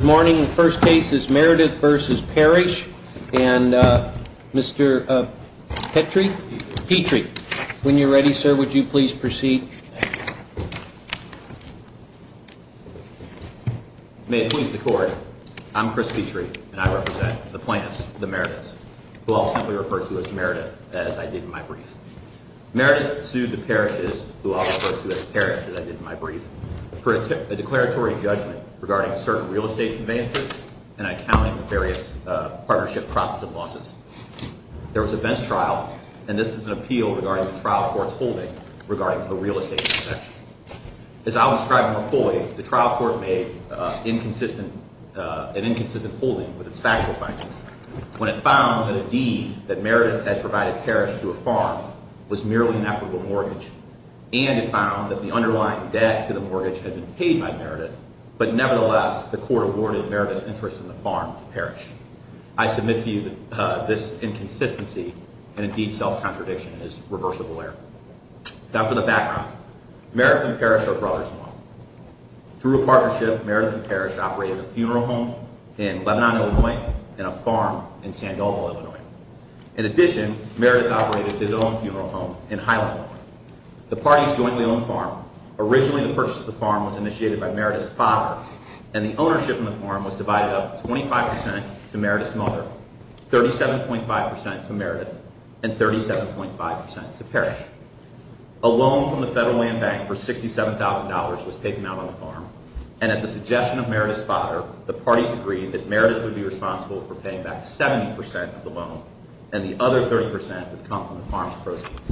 Good morning. The first case is Meridith v. Parrish, and Mr. Petrie, when you're ready, sir, would you please proceed? May it please the Court, I'm Chris Petrie, and I represent the plaintiffs, the Meridiths, who I'll simply refer to as Meridith, as I did in my brief. Meridith sued the Parrishes, who I'll refer to as Parrish, as I did in my brief, for a declaratory judgment regarding certain real estate conveyances and accounting for various partnership profits and losses. There was a vence trial, and this is an appeal regarding the trial court's holding regarding a real estate transaction. As I'll describe more fully, the trial court made an inconsistent holding with its factual findings when it found that a deed that Meridith had provided Parrish to a farm was merely an equitable mortgage, and it found that the underlying debt to the mortgage had been paid by Meridith, but nevertheless, the court awarded Meridith's interest in the farm to Parrish. I submit to you that this inconsistency and, indeed, self-contradiction is reversible error. Now, for the background, Meridith and Parrish are brothers-in-law. Through a partnership, Meridith and Parrish operated a funeral home in Lebanon, Illinois, and a farm in San Diego, Illinois. In addition, Meridith operated his own funeral home in Highland, Illinois. The parties jointly owned the farm. Originally, the purchase of the farm was initiated by Meridith's father, and the ownership of the farm was divided up 25 percent to Meridith's mother, 37.5 percent to Meridith, and 37.5 percent to Parrish. A loan from the Federal Land Bank for $67,000 was taken out on the farm, and at the suggestion of Meridith's father, the parties agreed that Meridith would be responsible for paying back 70 percent of the loan, and the other 30 percent would come from the farm's proceeds.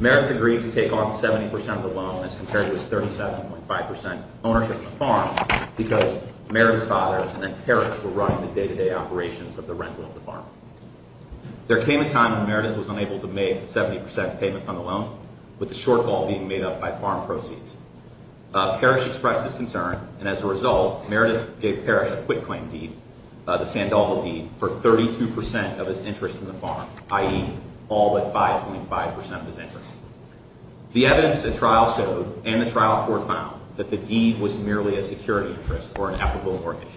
Meridith agreed to take on 70 percent of the loan as compared to his 37.5 percent ownership of the farm, because Meridith's father and then Parrish were running the day-to-day operations of the rental of the farm. There came a time when Meridith was unable to make 70 percent payments on the loan, with the shortfall being made up by farm proceeds. Parrish expressed his concern, and as a result, Meridith gave Parrish a quit-claim deed, the Sandoval deed, for 32 percent of his interest in the farm, i.e., all but 5.5 percent of his interest. The evidence at trial showed, and the trial court found, that the deed was merely a security interest or an equitable mortgage.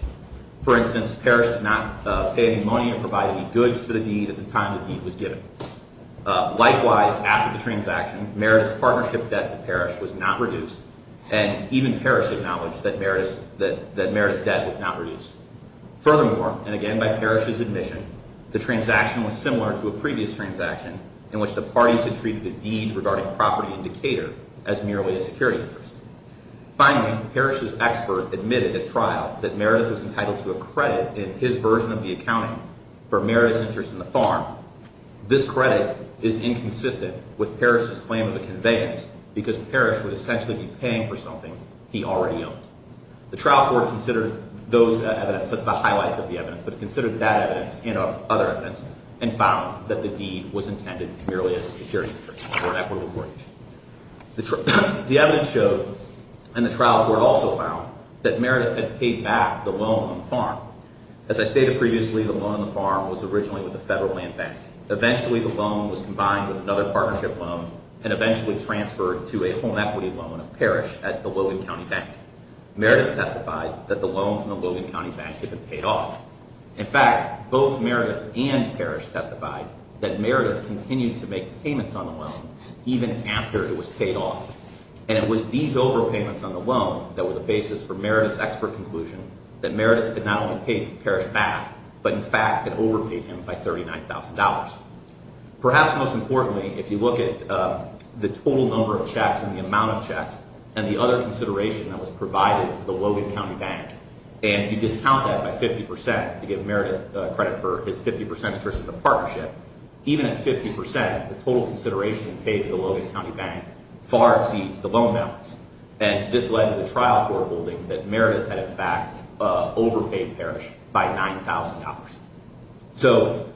For instance, Parrish did not pay any money or provide any goods for the deed at the time the deed was given. Likewise, after the transaction, Meridith's partnership debt to Parrish was not reduced, and even Parrish acknowledged that Meridith's debt was not reduced. Furthermore, and again by Parrish's admission, the transaction was similar to a previous transaction, in which the parties had treated the deed regarding property in Decatur as merely a security interest. Finally, Parrish's expert admitted at trial that Meridith was entitled to a credit in his version of the accounting for Meridith's interest in the farm. This credit is inconsistent with Parrish's claim of a conveyance, because Parrish would essentially be paying for something he already owned. The trial court considered those evidence, that's the highlights of the evidence, but considered that evidence and other evidence, and found that the deed was intended merely as a security interest or an equitable mortgage. The evidence showed, and the trial court also found, that Meridith had paid back the loan on the farm. As I stated previously, the loan on the farm was originally with the Federal Land Bank. Eventually, the loan was combined with another partnership loan and eventually transferred to a home equity loan of Parrish at the Logan County Bank. Meridith testified that the loan from the Logan County Bank had been paid off. In fact, both Meridith and Parrish testified that Meridith continued to make payments on the loan even after it was paid off. And it was these overpayments on the loan that were the basis for Meridith's expert conclusion that Meridith had not only paid Parrish back, but in fact had overpaid him by $39,000. Perhaps most importantly, if you look at the total number of checks and the amount of checks, and the other consideration that was provided to the Logan County Bank, and you discount that by 50% to give Meridith credit for his 50% interest in the partnership, even at 50%, the total consideration paid to the Logan County Bank far exceeds the loan balance. And this led to the trial court holding that Meridith had in fact overpaid Parrish by $9,000. So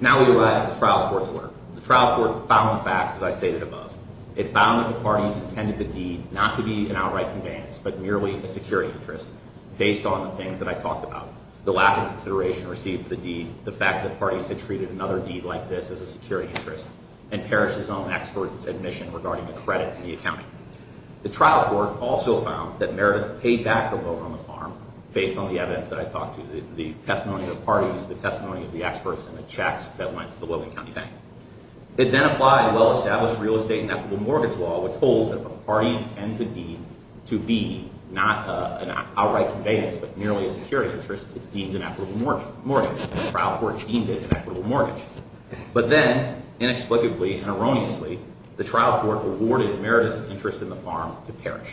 now we arrive at the trial court's work. The trial court found the facts, as I stated above. It found that the parties intended the deed not to be an outright conveyance, but merely a security interest, based on the things that I talked about. The lack of consideration received for the deed, the fact that parties had treated another deed like this as a security interest, and Parrish's own expert admission regarding the credit and the accounting. The trial court also found that Meridith paid back the loan on the farm, based on the evidence that I talked to, the testimony of the parties, the testimony of the experts, and the checks that went to the Logan County Bank. It then applied well-established real estate and equitable mortgage law, which holds that if a party intends a deed to be not an outright conveyance, but merely a security interest, it's deemed an equitable mortgage, and the trial court deemed it an equitable mortgage. But then, inexplicably and erroneously, the trial court awarded Meridith's interest in the farm to Parrish.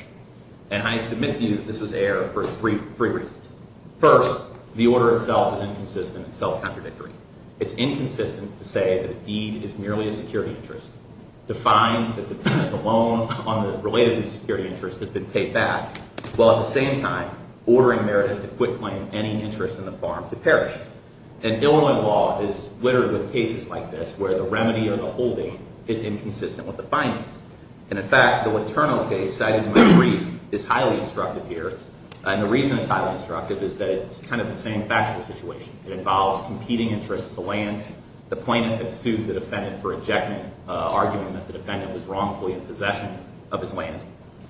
And I submit to you that this was error for three reasons. First, the order itself is inconsistent and self-contradictory. It's inconsistent to say that a deed is merely a security interest, to find that the loan on the related security interest has been paid back, while at the same time ordering Meridith to quit claiming any interest in the farm to Parrish. And Illinois law is littered with cases like this, where the remedy or the holding is inconsistent with the findings. And, in fact, the Laterno case, cited in my brief, is highly disruptive here. And the reason it's highly disruptive is that it's kind of the same factual situation. It involves competing interests, the land, the plaintiff had sued the defendant for ejection, arguing that the defendant was wrongfully in possession of his land.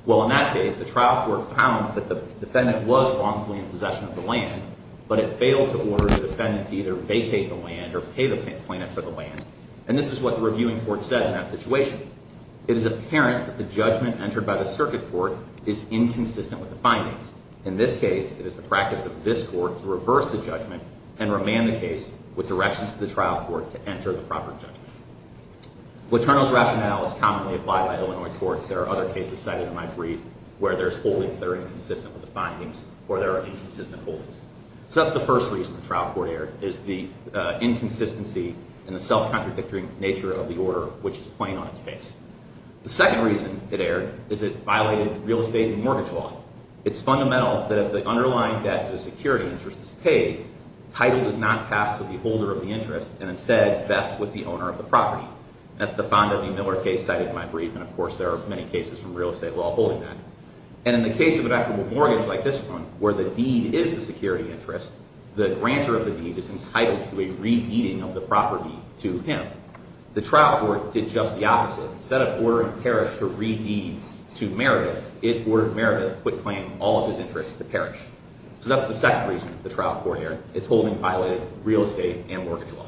Well, in that case, the trial court found that the defendant was wrongfully in possession of the land, but it failed to order the defendant to either vacate the land or pay the plaintiff for the land. And this is what the reviewing court said in that situation. It is apparent that the judgment entered by the circuit court is inconsistent with the findings. In this case, it is the practice of this court to reverse the judgment and remand the case with directions to the trial court to enter the proper judgment. Laterno's rationale is commonly applied by Illinois courts. There are other cases cited in my brief where there's holdings that are inconsistent with the findings or there are inconsistent holdings. So that's the first reason the trial court erred, is the inconsistency and the self-contradictory nature of the order, which is plain on its face. The second reason it erred is it violated real estate and mortgage law. It's fundamental that if the underlying debt to a security interest is paid, title does not pass to the holder of the interest and instead vests with the owner of the property. That's the Fonda v. Miller case cited in my brief, and of course there are many cases from real estate law holding that. And in the case of an equitable mortgage like this one, where the deed is the security interest, the grantor of the deed is entitled to a re-deeding of the property to him. The trial court did just the opposite. Instead of ordering Parrish to re-deed to Meredith, it ordered Meredith, who had quit claiming all of his interests, to Parrish. So that's the second reason the trial court erred. It's holdings violated real estate and mortgage law.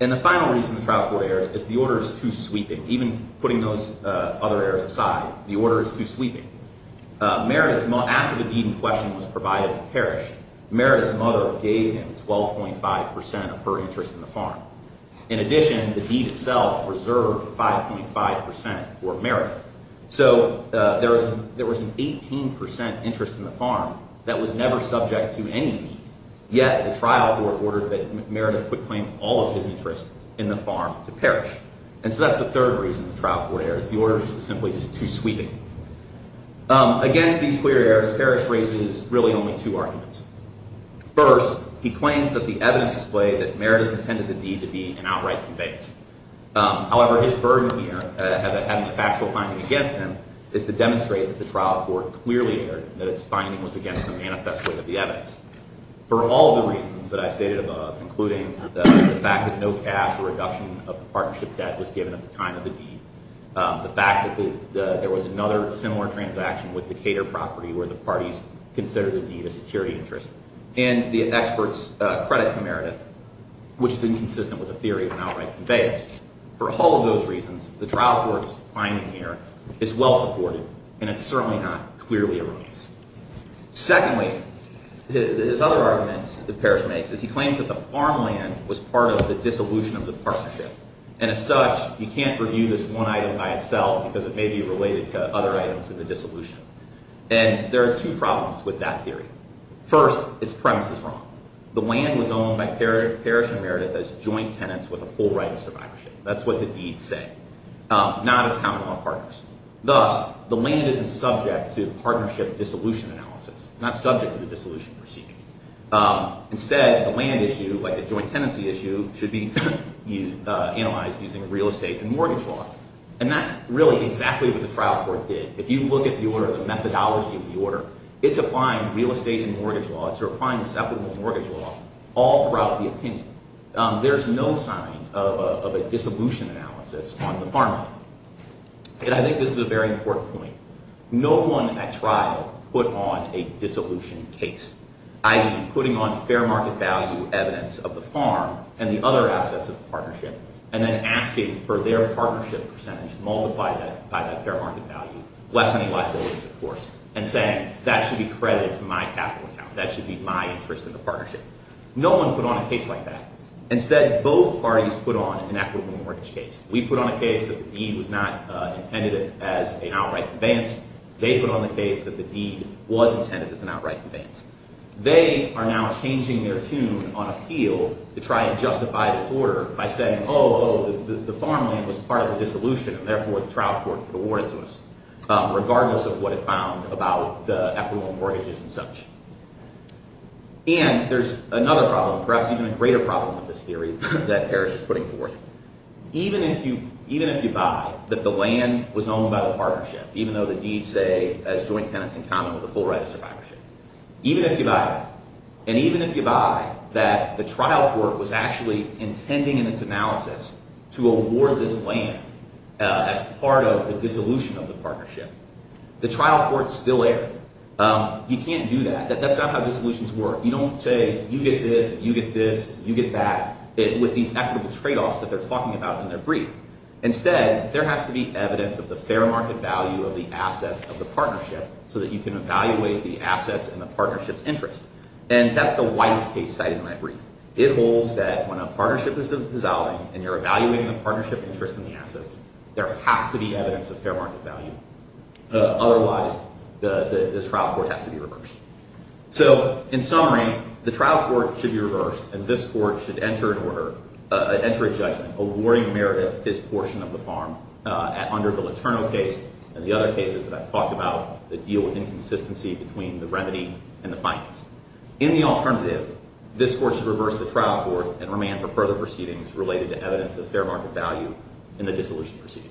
And the final reason the trial court erred is the order is too sweeping. Even putting those other errors aside, the order is too sweeping. After the deed in question was provided to Parrish, Meredith's mother gave him 12.5% of her interest in the farm. In addition, the deed itself reserved 5.5% for Meredith. So there was an 18% interest in the farm that was never subject to any deed. Yet the trial court ordered that Meredith quit claiming all of his interests in the farm to Parrish. And so that's the third reason the trial court erred. It's the order is simply just too sweeping. Against these clear errors, Parrish raises really only two arguments. First, he claims that the evidence displayed that Meredith intended the deed to be an outright conveyance. However, his burden here, having a factual finding against him, is to demonstrate that the trial court clearly erred, that its finding was against the manifest way of the evidence. For all the reasons that I stated above, including the fact that no cash or reduction of the partnership debt was given at the time of the deed, the fact that there was another similar transaction with the Cater property, where the parties considered the deed a security interest, and the experts credit to Meredith, which is inconsistent with the theory of an outright conveyance. For all of those reasons, the trial court's finding here is well supported, and it's certainly not clearly erroneous. Secondly, his other argument that Parrish makes is he claims that the farmland was part of the dissolution of the partnership. And as such, you can't review this one item by itself because it may be related to other items in the dissolution. And there are two problems with that theory. First, its premise is wrong. The land was owned by Parrish and Meredith as joint tenants with a full right of survivorship. That's what the deeds say. Not as common law partners. Thus, the land isn't subject to partnership dissolution analysis, not subject to the dissolution proceeding. Instead, the land issue, like the joint tenancy issue, should be analyzed using real estate and mortgage law. And that's really exactly what the trial court did. If you look at the methodology of the order, it's applying real estate and mortgage law. It's applying acceptable mortgage law all throughout the opinion. There's no sign of a dissolution analysis on the farmland. And I think this is a very important point. No one at trial put on a dissolution case, i.e., putting on fair market value evidence of the farm and the other assets of the partnership and then asking for their partnership percentage multiplied by that fair market value, lessening liabilities, of course, and saying that should be credited to my capital account, that should be my interest in the partnership. No one put on a case like that. Instead, both parties put on an equitable mortgage case. We put on a case that the deed was not intended as an outright conveyance. They put on a case that the deed was intended as an outright conveyance. They are now changing their tune on appeal to try and justify this order by saying, oh, the farmland was part of the dissolution and therefore the trial court could award it to us, regardless of what it found about the equitable mortgages and such. And there's another problem, perhaps even a greater problem with this theory, that Harris is putting forth. Even if you buy that the land was owned by the partnership, even though the deed say as joint tenants in common with the full right of survivorship, even if you buy that, and even if you buy that the trial court was actually intending in its analysis to award this land as part of the dissolution of the partnership, the trial court's still there. You can't do that. That's not how dissolutions work. You don't say, you get this, you get this, you get that, with these equitable tradeoffs that they're talking about in their brief. Instead, there has to be evidence of the fair market value of the assets of the partnership so that you can evaluate the assets and the partnership's interest. And that's the Weiss case cited in my brief. It holds that when a partnership is dissolving and you're evaluating the partnership interest in the assets, there has to be evidence of fair market value. Otherwise, the trial court has to be reversed. So in summary, the trial court should be reversed, and this court should enter a judgment awarding Meredith his portion of the farm under the Letourneau case and the other cases that I've talked about that deal with inconsistency between the remedy and the finance. In the alternative, this court should reverse the trial court and remand for further proceedings related to evidence of fair market value in the dissolution proceeding.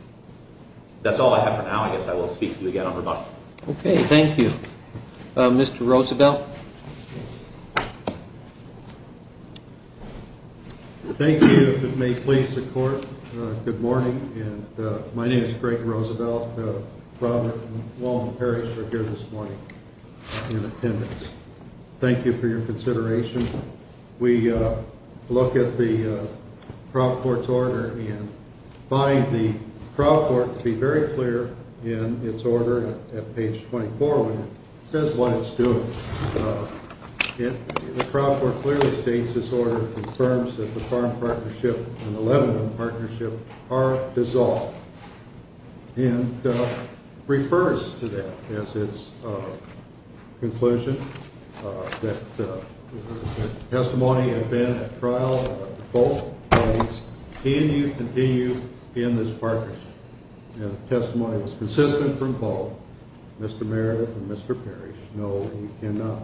That's all I have for now. I guess I will speak to you again on rebuttal. Okay, thank you. Mr. Roosevelt? Thank you. If it may please the Court, good morning. My name is Greg Roosevelt. Robert Long and Perry are here this morning in attendance. Thank you for your consideration. We look at the trial court's order and find the trial court, to be very clear, in its order at page 24 when it says what it's doing. The trial court clearly states this order confirms that the farm partnership and the Letourneau partnership are dissolved and refers to that as its conclusion, that testimony had been at trial of both parties, and you continue in this partnership. If testimony was consistent from both, Mr. Meredith and Mr. Perry, no, we cannot.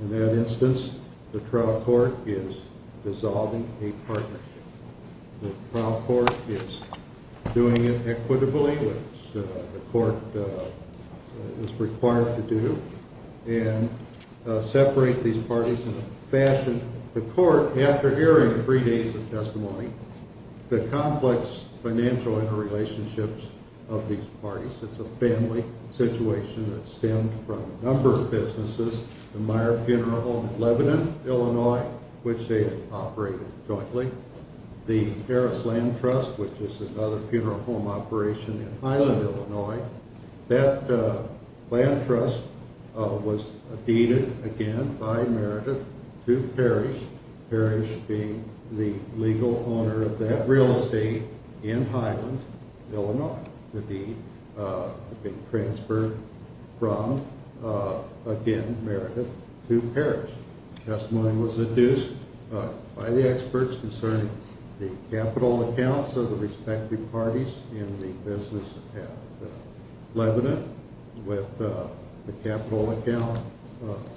In that instance, the trial court is dissolving a partnership. The trial court is doing it equitably, which the court is required to do, and separate these parties in a fashion. The court, after hearing three days of testimony, the complex financial interrelationships of these parties, it's a family situation that stemmed from a number of businesses, the Meyer Funeral Home in Lebanon, Illinois, which they had operated jointly, the Harris Land Trust, which is another funeral home operation in Highland, Illinois. That land trust was deeded, again, by Meredith to Parrish, Parrish being the legal owner of that real estate in Highland, Illinois. The deed had been transferred from, again, Meredith to Parrish. Testimony was adduced by the experts concerning the capital accounts of the respective parties in the business at Lebanon, with the capital account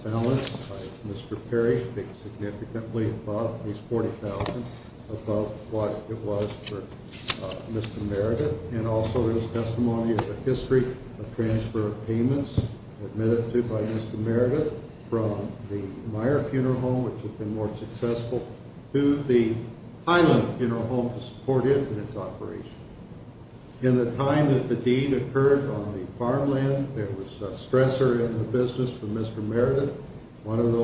balance by Mr. Perry being significantly above, at least $40,000 above what it was for Mr. Meredith, and also there's testimony of the history of transfer of payments admitted to by Mr. Meredith from the Meyer Funeral Home, which has been more successful, to the Highland Funeral Home to support it in its operation. In the time that the deed occurred on the farmland, there was a stressor in the business for Mr. Meredith, one of those.